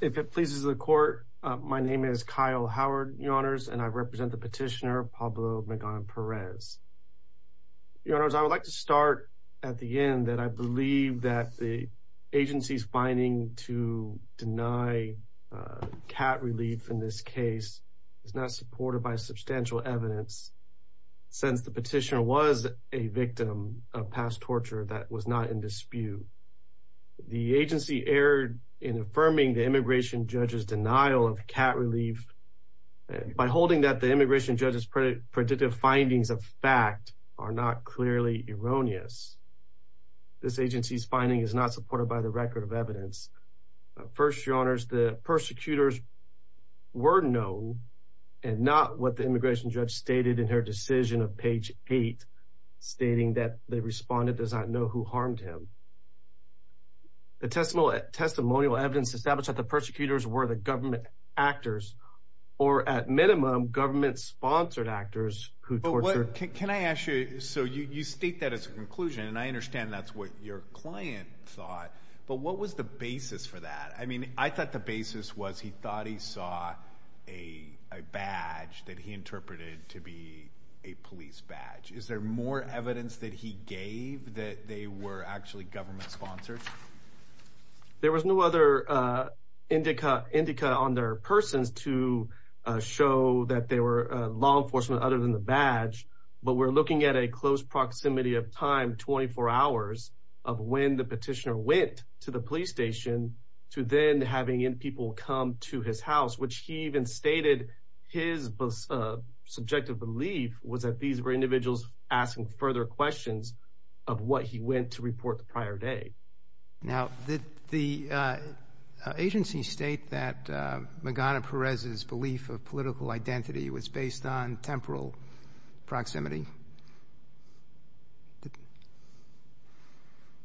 If it pleases the Court, my name is Kyle Howard, Your Honors, and I represent the petitioner Pablo Magana Perez. Your Honors, I would like to start at the end that I believe that the agency's finding to deny cat relief in this case is not supported by substantial evidence, since the petitioner was a victim of past torture that was not in dispute. The agency erred in affirming the immigration judge's denial of cat relief by holding that the immigration judge's predictive findings of fact are not clearly erroneous. This agency's finding is not supported by the record of evidence. First, Your Honors, the persecutors were known, and not what the immigration judge stated in her decision of page 8, stating that they responded, does not know who harmed him. The testimonial evidence established that the persecutors were the government actors, or at minimum, government-sponsored actors who tortured. Can I ask you, so you state that as a conclusion, and I understand that's what your client thought, but what was the basis for that? I mean, I thought the basis was he thought he saw a badge that he interpreted to be a police badge. Is there more evidence that he gave that they were actually government-sponsored? There was no other indica on their persons to show that they were law enforcement other than the badge, but we're looking at a close proximity of time, 24 hours, of when the petitioner went to the police station to then having people come to his house, which he even stated his subjective belief was that these were individuals asking further questions of what he went to report the prior day. Now, did the agency state that Magana Perez's belief of political identity was based on temporal proximity?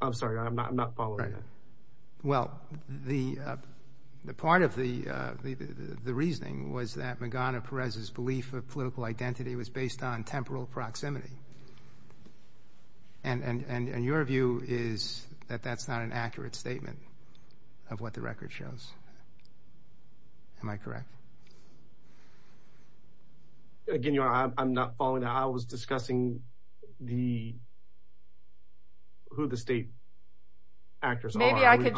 I'm sorry, I'm not following that. Well, the part of the reasoning was that Magana Perez's belief of political identity was based on temporal proximity, and your view is that that's not an accurate statement of what the record shows. Am I correct? Again, I'm not following that. I was discussing who the state actors are. Maybe I could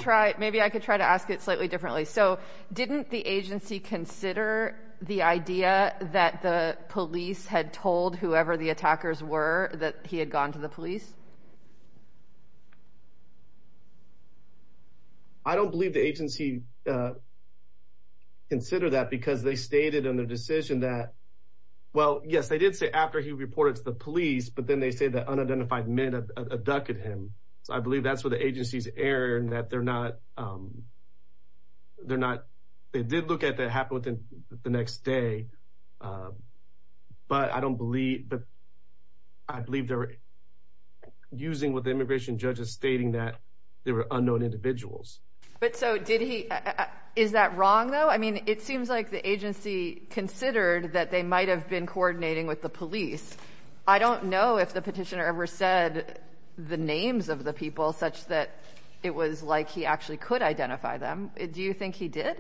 try to ask it slightly differently. So didn't the agency consider the idea that the police had told whoever the attackers were that he had gone to the police? I don't believe the agency considered that because they stated in their decision that, well, yes, they did say after he reported to the police, but then they say that unidentified men abducted him. So I believe that's where the agency's error in that they're not, they did look at what happened within the next day, but I don't believe, but I believe they're using what the immigration judge is stating that there were unknown individuals. But so did he, is that wrong, though? I mean, it seems like the agency considered that they might have been coordinating with the police. I don't know if the petitioner ever said the names of the people such that it was like he actually could identify them. Do you think he did?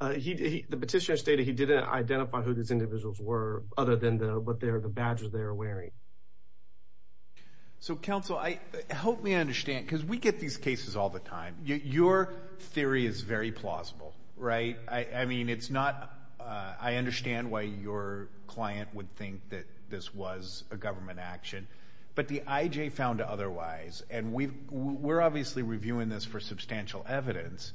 The petitioner stated he didn't identify who these individuals were other than the badges they were wearing. So, counsel, help me understand, because we get these cases all the time. Your theory is very plausible, right? I mean, it's not, I understand why your client would think that this was a government action, but the IJ found otherwise, and we're obviously reviewing this for substantial evidence.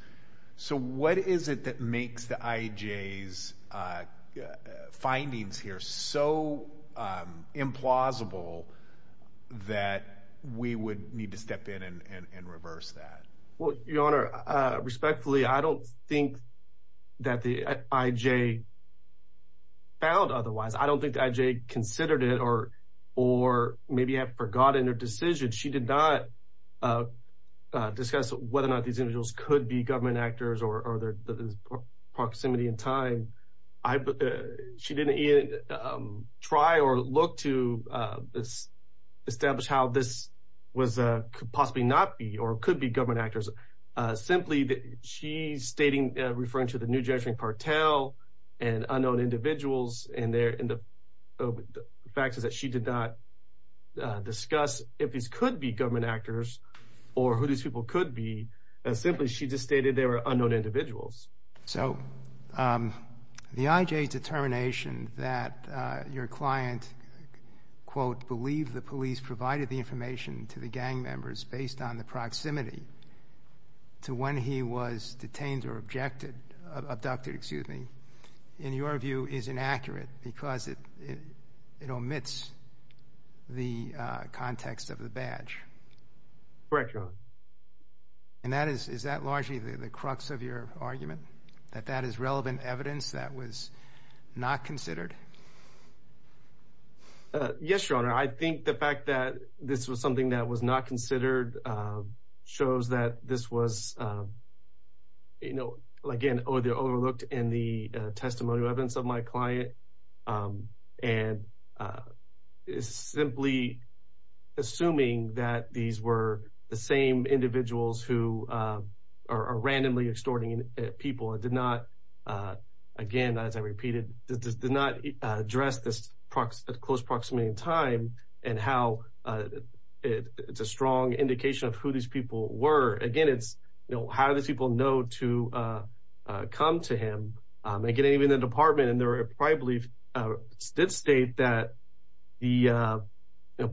So what is it that makes the IJ's findings here so implausible that we would need to step in and reverse that? Well, Your Honor, respectfully, I don't think that the IJ found otherwise. I don't think the IJ considered it or maybe had forgotten her decision. She did not discuss whether or not these individuals could be government actors or their proximity in time. She didn't even try or look to establish how this could possibly not be or could be government actors. Simply, she's stating, referring to the New Jersey Cartel and unknown individuals, and the fact is that she did not discuss if these could be government actors or who these people could be. Simply, she just stated they were unknown individuals. So the IJ's determination that your client, quote, provided the information to the gang members based on the proximity to when he was detained or abducted, in your view, is inaccurate because it omits the context of the badge. Correct, Your Honor. And is that largely the crux of your argument, that that is relevant evidence that was not considered? Yes, Your Honor. I think the fact that this was something that was not considered shows that this was, you know, again, overlooked in the testimonial evidence of my client. And simply assuming that these were the same individuals who are randomly extorting people, it did not, again, as I repeated, it did not address this close proximity in time and how it's a strong indication of who these people were. Again, it's, you know, how do these people know to come to him? Again, even the department in their private belief did state that the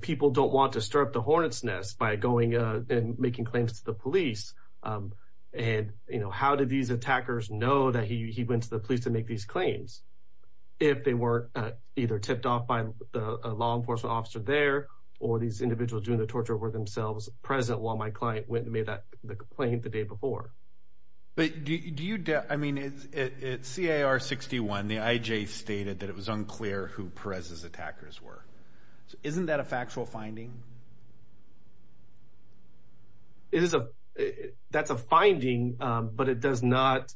people don't want to stir up the hornet's nest by going and making claims to the police. And, you know, how did these attackers know that he went to the police to make these claims if they weren't either tipped off by a law enforcement officer there or these individuals doing the torture were themselves present while my client went and made that complaint the day before? But do you, I mean, it's C.A.R. 61. The I.J. stated that it was unclear who Perez's attackers were. Isn't that a factual finding? It is a, that's a finding, but it does not,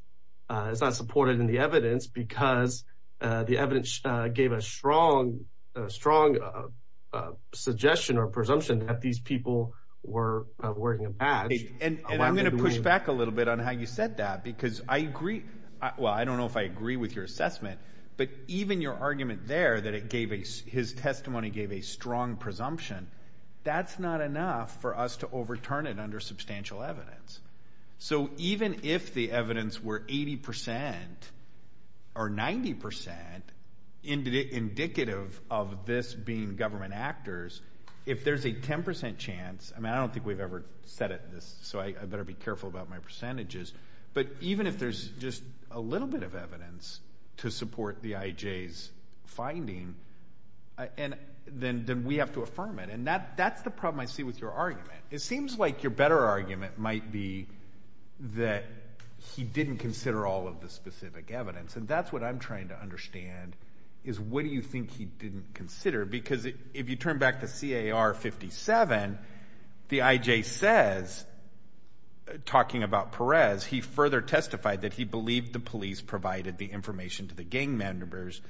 it's not supported in the evidence because the evidence gave a strong, strong suggestion or presumption that these people were wearing a badge. And I'm going to push back a little bit on how you said that because I agree, well, I don't know if I agree with your assessment, but even your argument there that it gave a, his testimony gave a strong presumption, that's not enough for us to overturn it under substantial evidence. So even if the evidence were 80% or 90% indicative of this being government actors, if there's a 10% chance, I mean, I don't think we've ever said it, so I better be careful about my percentages, but even if there's just a little bit of evidence to support the I.J.'s finding, then we have to affirm it, and that's the problem I see with your argument. It seems like your better argument might be that he didn't consider all of the specific evidence, and that's what I'm trying to understand is what do you think he didn't consider? Because if you turn back to C.A.R. 57, the I.J. says, talking about Perez, he further testified that he believed the police provided the information to the gang members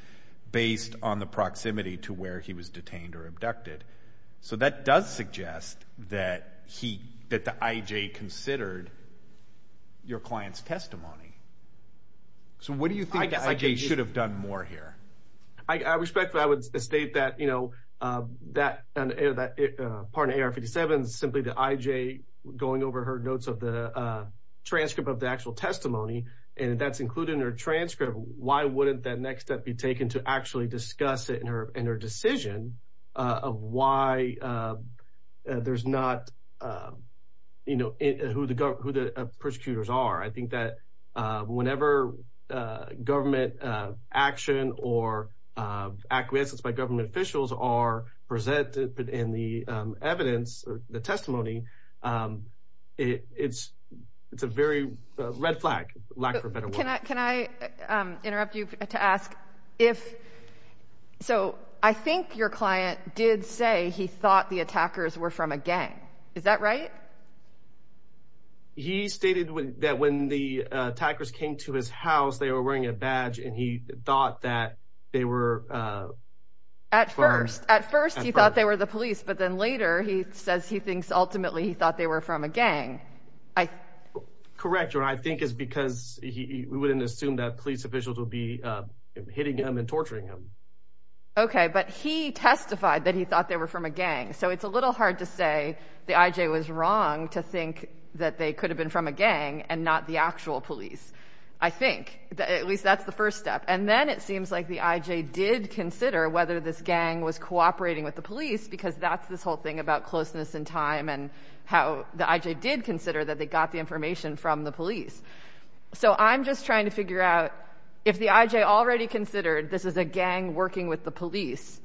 based on the proximity to where he was detained or abducted. So that does suggest that the I.J. considered your client's testimony. So what do you think the I.J. should have done more here? I respectfully would state that part of A.R. 57 is simply the I.J. going over her notes of the transcript of the actual testimony, and that's included in her transcript. Why wouldn't that next step be taken to actually discuss it in her decision of why there's not who the persecutors are? I think that whenever government action or acquiescence by government officials are presented in the evidence, the testimony, it's a very red flag. Can I interrupt you to ask, so I think your client did say he thought the attackers were from a gang. Is that right? He stated that when the attackers came to his house, they were wearing a badge, and he thought that they were. At first, at first he thought they were the police, but then later he says he thinks ultimately he thought they were from a gang. Correct. I think it's because he wouldn't assume that police officials will be hitting him and torturing him. OK, but he testified that he thought they were from a gang. So it's a little hard to say the I.J. was wrong to think that they could have been from a gang and not the actual police, I think. At least that's the first step. And then it seems like the I.J. did consider whether this gang was cooperating with the police, because that's this whole thing about closeness in time and how the I.J. did consider that they got the information from the police. So I'm just trying to figure out if the I.J. already considered this is a gang working with the police,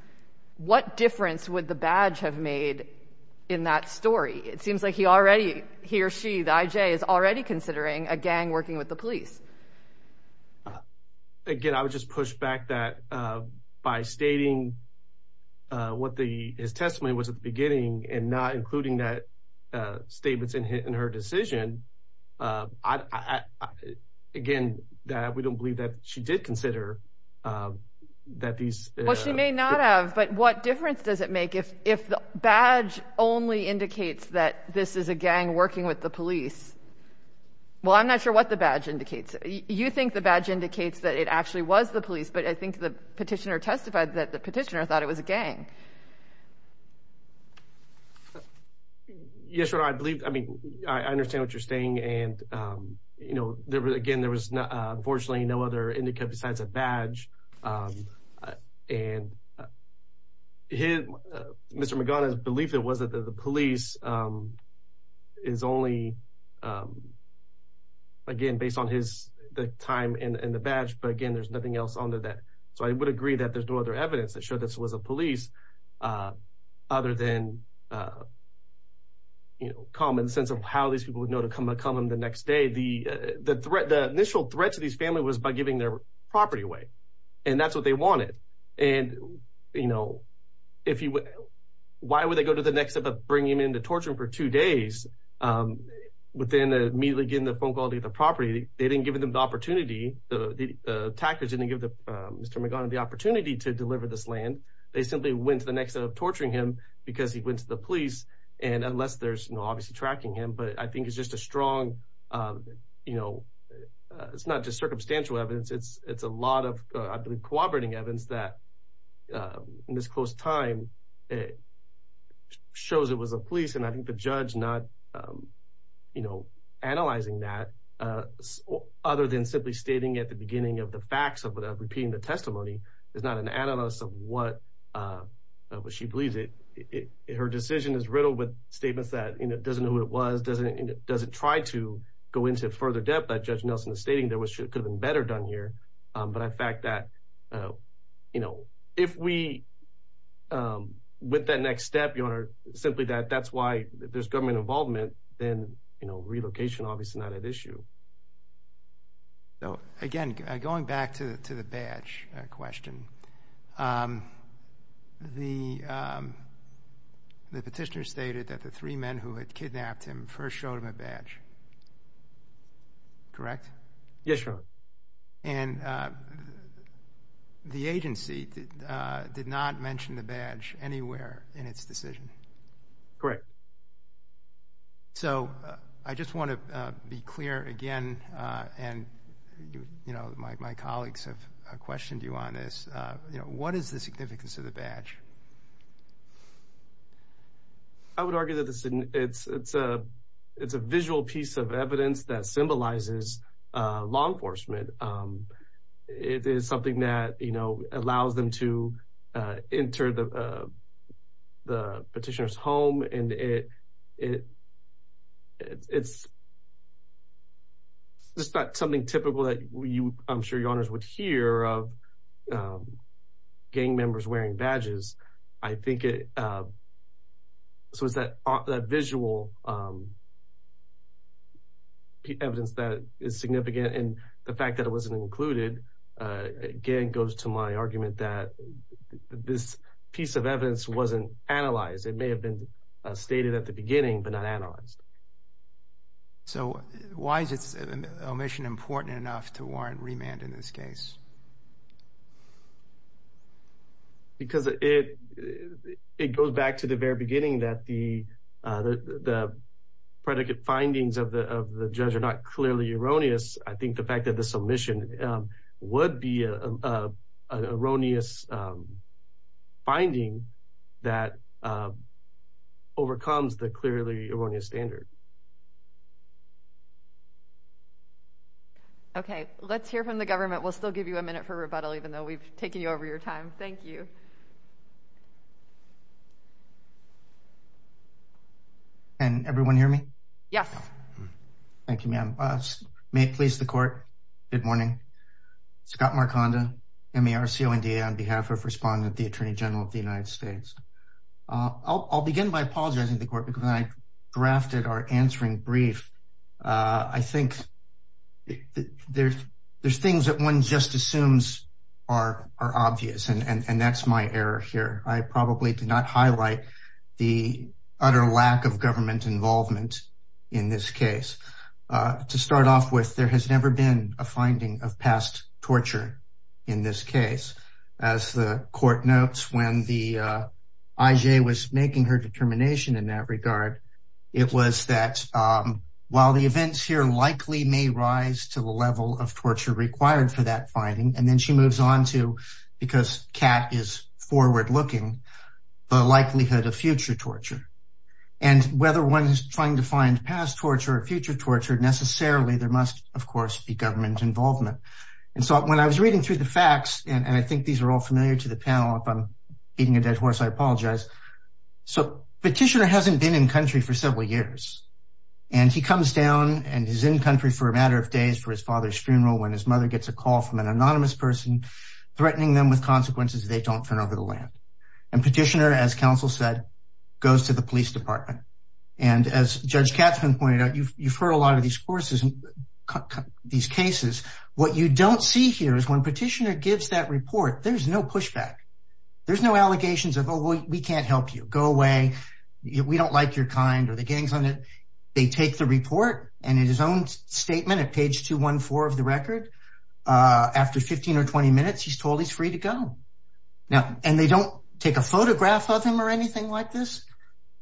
what difference would the badge have made in that story? It seems like he already he or she, the I.J., is already considering a gang working with the police. Again, I would just push back that by stating what the his testimony was at the beginning and not including that statements in her decision. Again, we don't believe that she did consider that these. Well, she may not have. But what difference does it make if the badge only indicates that this is a gang working with the police? Well, I'm not sure what the badge indicates. You think the badge indicates that it actually was the police. But I think the petitioner testified that the petitioner thought it was a gang. Yes, I believe. I mean, I understand what you're saying. And, you know, again, there was unfortunately no other indicate besides a badge. And here, Mr. Magana's belief, it was that the police is only, again, based on his time and the badge. But again, there's nothing else under that. So I would agree that there's no other evidence that showed this was a police other than. You know, common sense of how these people would know to come and come on the next day. The the threat, the initial threat to these family was by giving their property away. And that's what they wanted. And, you know, if you why would they go to the next step of bringing him into torture for two days? Within a meal again, the phone call to the property, they didn't give them the opportunity. The attackers didn't give Mr. Magana the opportunity to deliver this land. They simply went to the next set of torturing him because he went to the police. And unless there's no obviously tracking him. But I think it's just a strong, you know, it's not just circumstantial evidence. It's it's a lot of I believe cooperating evidence that in this close time it shows it was a police. And I think the judge not, you know, analyzing that other than simply stating at the beginning of the facts of repeating the testimony. It's not an analyst of what she believes it. Her decision is riddled with statements that doesn't know what it was, doesn't doesn't try to go into further depth. That judge Nelson is stating there was should have been better done here. But I fact that, you know, if we with that next step, you are simply that that's why there's government involvement. But then, you know, relocation obviously not at issue. Again, going back to the badge question. The petitioner stated that the three men who had kidnapped him first showed him a badge. Correct? Yes, sir. And the agency did not mention the badge anywhere in its decision. Correct. So I just want to be clear again. And, you know, my colleagues have questioned you on this. You know, what is the significance of the badge? I would argue that this it's it's a it's a visual piece of evidence that symbolizes law enforcement. It is something that, you know, allows them to enter the petitioner's home. And it it it's. It's not something typical that you I'm sure your honors would hear of gang members wearing badges. I think it. So is that a visual? The evidence that is significant and the fact that it wasn't included, again, goes to my argument that this piece of evidence wasn't analyzed. It may have been stated at the beginning, but not analyzed. So why is this omission important enough to warrant remand in this case? Because it it goes back to the very beginning that the the predicate findings of the judge are not clearly erroneous. I think the fact that this omission would be an erroneous finding that overcomes the clearly erroneous standard. OK, let's hear from the government. We'll still give you a minute for rebuttal, even though we've taken you over your time. Thank you. And everyone hear me? Yes. Thank you, ma'am. May it please the court. Good morning. Scott Markanda, M.A.R.C.O.N.D.A. on behalf of Respondent, the attorney general of the United States. I'll begin by apologizing to the court because I drafted our answering brief. I think there's there's things that one just assumes are are obvious. And that's my error here. I probably did not highlight the utter lack of government involvement in this case. To start off with, there has never been a finding of past torture in this case. As the court notes, when the IJ was making her determination in that regard, it was that while the events here likely may rise to the level of torture required for that finding. And then she moves on to, because Kat is forward looking, the likelihood of future torture and whether one is trying to find past torture or future torture necessarily. There must, of course, be government involvement. And so when I was reading through the facts and I think these are all familiar to the panel, if I'm beating a dead horse, I apologize. So Petitioner hasn't been in country for several years, and he comes down and is in country for a matter of days for his father's funeral when his mother gets a call from an anonymous person threatening them with consequences they don't fend over the land. And Petitioner, as counsel said, goes to the police department. And as Judge Katzman pointed out, you've heard a lot of these cases. What you don't see here is when Petitioner gives that report, there's no pushback. There's no allegations of, oh, well, we can't help you. Go away. We don't like your kind or the gangs on it. They take the report and in his own statement at page 214 of the record, after 15 or 20 minutes, he's told he's free to go. And they don't take a photograph of him or anything like this.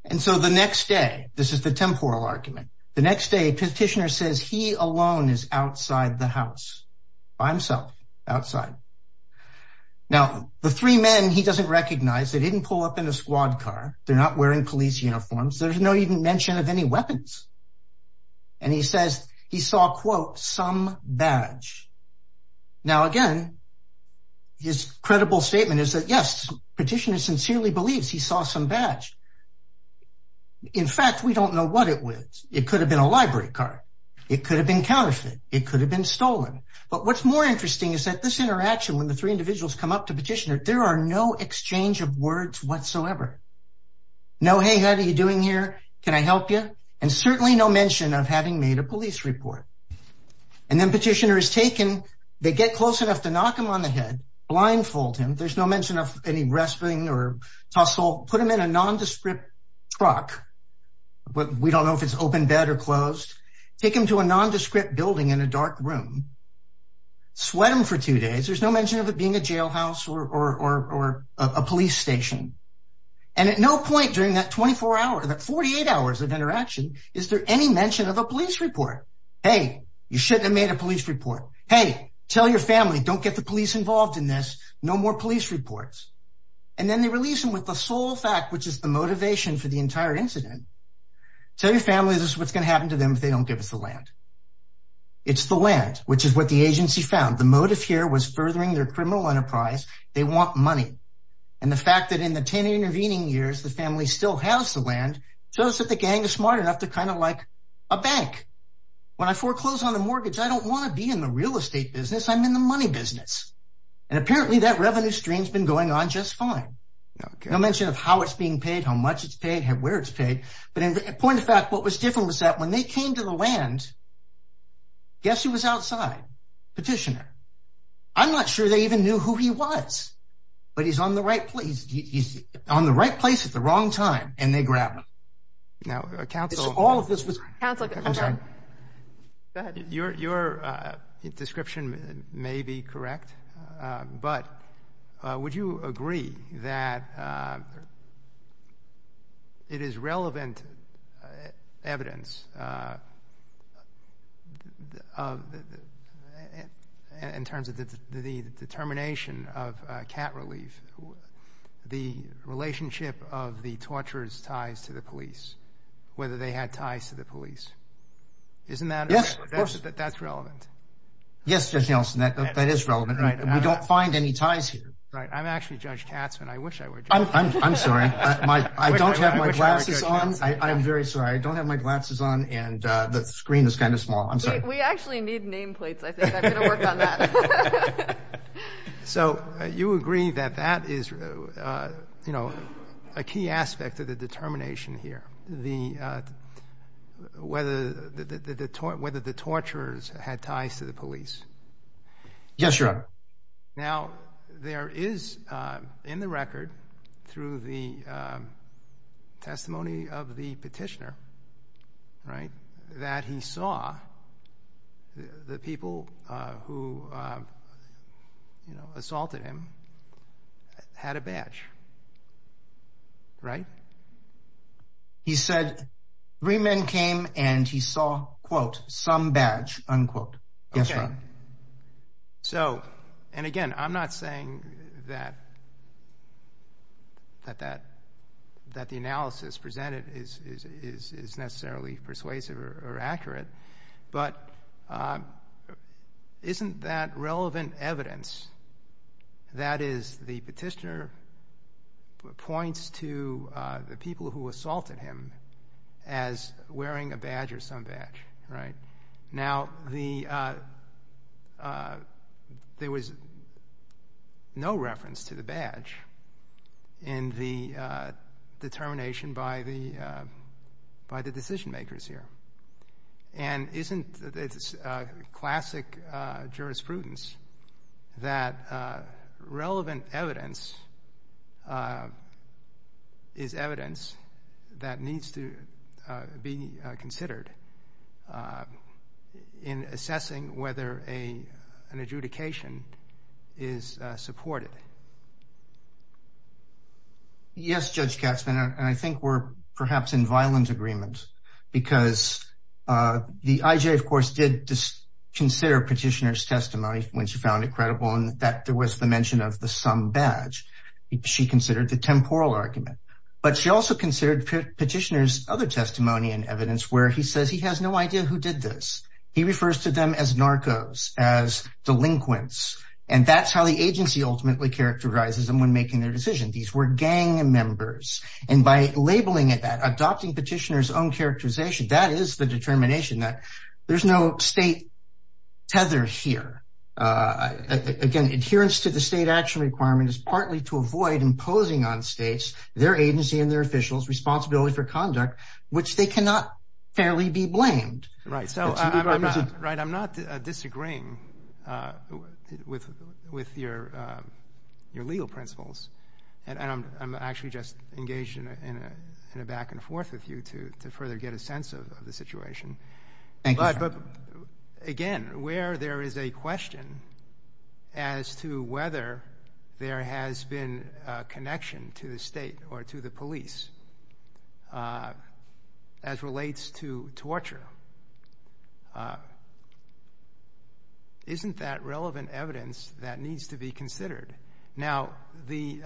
And so the next day, this is the temporal argument. The next day, Petitioner says he alone is outside the house by himself, outside. Now, the three men, he doesn't recognize. They didn't pull up in a squad car. They're not wearing police uniforms. There's no even mention of any weapons. And he says he saw, quote, some badge. Now, again, his credible statement is that, yes, Petitioner sincerely believes he saw some badge. In fact, we don't know what it was. It could have been a library card. It could have been counterfeit. It could have been stolen. But what's more interesting is that this interaction when the three individuals come up to Petitioner, there are no exchange of words whatsoever. No, hey, how are you doing here? Can I help you? And certainly no mention of having made a police report. And then Petitioner is taken. They get close enough to knock him on the head, blindfold him. There's no mention of any wrestling or tussle. Put him in a nondescript truck. But we don't know if it's open bed or closed. Take him to a nondescript building in a dark room. Sweat him for two days. There's no mention of it being a jailhouse or a police station. And at no point during that 24 hour, that 48 hours of interaction, is there any mention of a police report? Hey, you shouldn't have made a police report. Hey, tell your family, don't get the police involved in this. No more police reports. And then they release him with the sole fact, which is the motivation for the entire incident. Tell your family this is what's going to happen to them if they don't give us the land. It's the land, which is what the agency found. The motive here was furthering their criminal enterprise. They want money. And the fact that in the 10 intervening years, the family still has the land shows that the gang is smart enough to kind of like a bank. When I foreclose on a mortgage, I don't want to be in the real estate business. I'm in the money business. And apparently that revenue stream's been going on just fine. No mention of how it's being paid, how much it's paid, where it's paid. But in point of fact, what was different was that when they came to the land, guess who was outside? Petitioner. I'm not sure they even knew who he was, but he's on the right place. He's on the right place at the wrong time. And they grabbed him. Now, counsel, all of this was. Your description may be correct, but would you agree that. It is relevant evidence. In terms of the determination of cat relief, the relationship of the torturer's ties to the police, whether they had ties to the police. Isn't that yes, that's relevant. Yes. That is relevant. We don't find any ties here. I'm actually Judge Katzman. I wish I were. I'm sorry. I don't have my glasses on. I'm very sorry. I don't have my glasses on. And the screen is kind of small. I'm sorry. We actually need nameplates. So you agree that that is, you know, a key aspect of the determination here. The whether the whether the torturers had ties to the police. Yes, sir. Now, there is in the record through the testimony of the petitioner. Right. That he saw the people who assaulted him had a badge. Right. He said three men came and he saw, quote, some badge, unquote. Yes, sir. So, and again, I'm not saying that that that the analysis presented is necessarily persuasive or accurate. But isn't that relevant evidence? That is, the petitioner points to the people who assaulted him as wearing a badge or some badge. Right. Now, the there was no reference to the badge in the determination by the by the decision makers here. And isn't this classic jurisprudence that relevant evidence is evidence that needs to be considered in assessing whether a an adjudication is supported? Yes, Judge Katzmann. And I think we're perhaps in violence agreement because the IJ, of course, did consider petitioner's testimony when she found it credible and that there was the mention of the some badge she considered the temporal argument. But she also considered petitioner's other testimony and evidence where he says he has no idea who did this. He refers to them as narcos, as delinquents. And that's how the agency ultimately characterizes them when making their decision. These were gang members. And by labeling it that adopting petitioner's own characterization, that is the determination that there's no state tether here. Again, adherence to the state action requirement is partly to avoid imposing on states their agency and their officials responsibility for conduct, which they cannot fairly be blamed. Right. I'm not disagreeing with your legal principles. And I'm actually just engaged in a back and forth with you to further get a sense of the situation. Thank you, sir. Again, where there is a question as to whether there has been a connection to the state or to the police as relates to torture, isn't that relevant evidence that needs to be considered? Now, the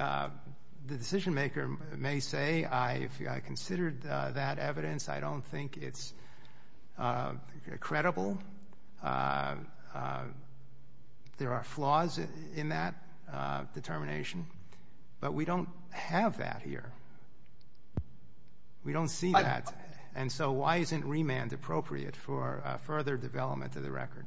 decision maker may say, I considered that evidence. I don't think it's credible. There are flaws in that determination. But we don't have that here. We don't see that. And so why isn't remand appropriate for further development of the record?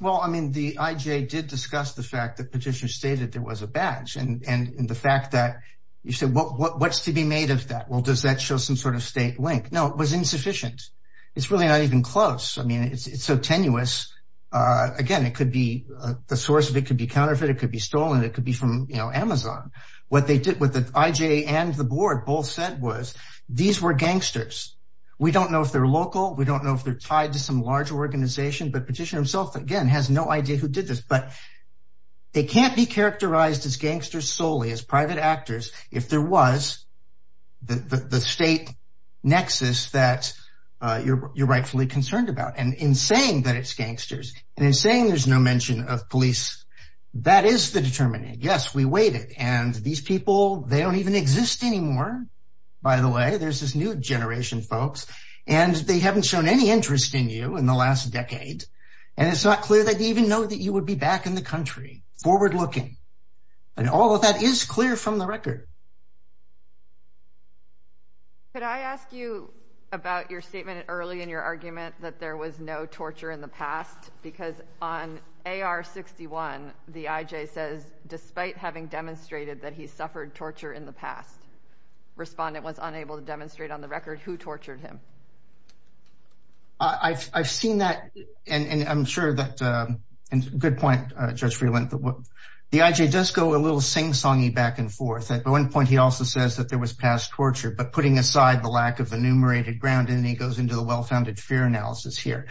Well, I mean, the IJ did discuss the fact that petitioner stated there was a badge. And the fact that you said, well, what's to be made of that? Well, does that show some sort of state link? No, it was insufficient. It's really not even close. I mean, it's so tenuous. Again, it could be the source. It could be counterfeit. It could be stolen. It could be from Amazon. What they did with the IJ and the board both said was these were gangsters. We don't know if they're local. We don't know if they're tied to some large organization. But petitioner himself, again, has no idea who did this. But they can't be characterized as gangsters solely, as private actors, if there was the state nexus that you're rightfully concerned about. And in saying that it's gangsters and in saying there's no mention of police, that is the determination. Yes, we waited. And these people, they don't even exist anymore, by the way. There's this new generation, folks. And they haven't shown any interest in you in the last decade. And it's not clear they even know that you would be back in the country, forward-looking. And all of that is clear from the record. Could I ask you about your statement early in your argument that there was no torture in the past? Because on AR-61, the IJ says, despite having demonstrated that he suffered torture in the past, the respondent was unable to demonstrate on the record who tortured him. I've seen that. And I'm sure that, and good point, Judge Freeland. The IJ does go a little sing-songy back and forth. At one point, he also says that there was past torture. But putting aside the lack of enumerated ground, and he goes into the well-founded fear analysis here.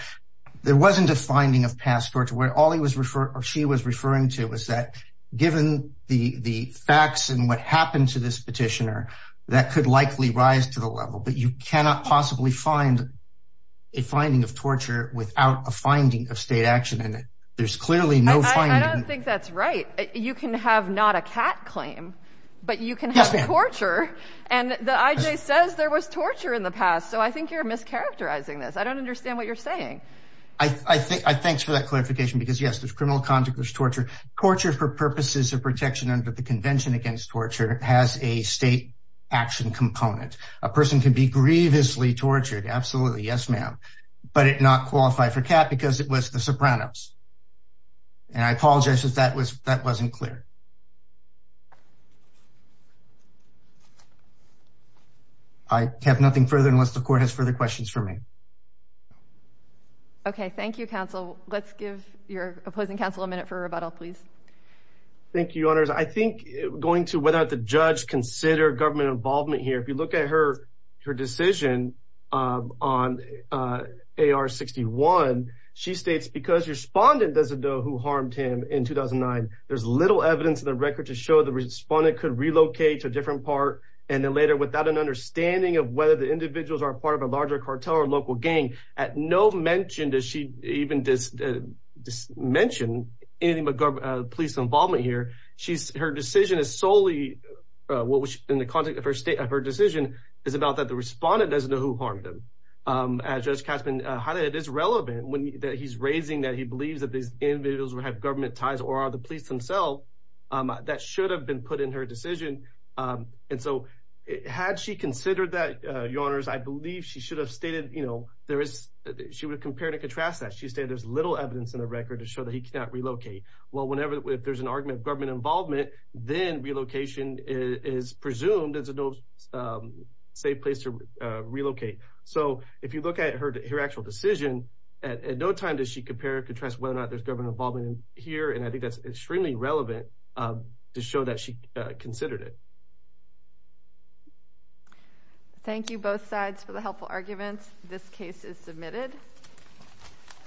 There wasn't a finding of past torture where all he was referring, or she was referring to was that given the facts and what happened to this petitioner, that could likely rise to the level. But you cannot possibly find a finding of torture without a finding of state action in it. There's clearly no finding. I don't think that's right. You can have not a cat claim, but you can have torture. And the IJ says there was torture in the past. So I think you're mischaracterizing this. I don't understand what you're saying. Thanks for that clarification. Because, yes, there's criminal conduct, there's torture. Torture, for purposes of protection under the Convention Against Torture, has a state action component. A person can be grievously tortured. Absolutely. Yes, ma'am. But not qualify for cat because it was the Sopranos. And I apologize if that wasn't clear. I have nothing further unless the court has further questions for me. Okay. Thank you, counsel. Let's give your opposing counsel a minute for a rebuttal, please. Thank you, Your Honors. I think going to whether the judge consider government involvement here, if you look at her decision on AR-61, she states because the respondent doesn't know who harmed him in 2009, there's little evidence in the record to show the respondent could relocate to a different part and then later, without an understanding of whether the individuals are part of a larger cartel or local gang. At no mention does she even mention any police involvement here. Her decision is solely, in the context of her decision, is about that the respondent doesn't know who harmed him. As Judge Caspin highlighted, it is relevant that he's raising that he believes that these individuals would have government ties or are the police themselves. That should have been put in her decision. And so had she considered that, Your Honors, I believe she would have compared and contrast that. She stated there's little evidence in the record to show that he cannot relocate. Well, if there's an argument of government involvement, then relocation is presumed as a safe place to relocate. So if you look at her actual decision, at no time does she compare and contrast whether or not there's government involvement here, and I think that's extremely relevant to show that she considered it. Thank you, both sides, for the helpful arguments. This case is submitted.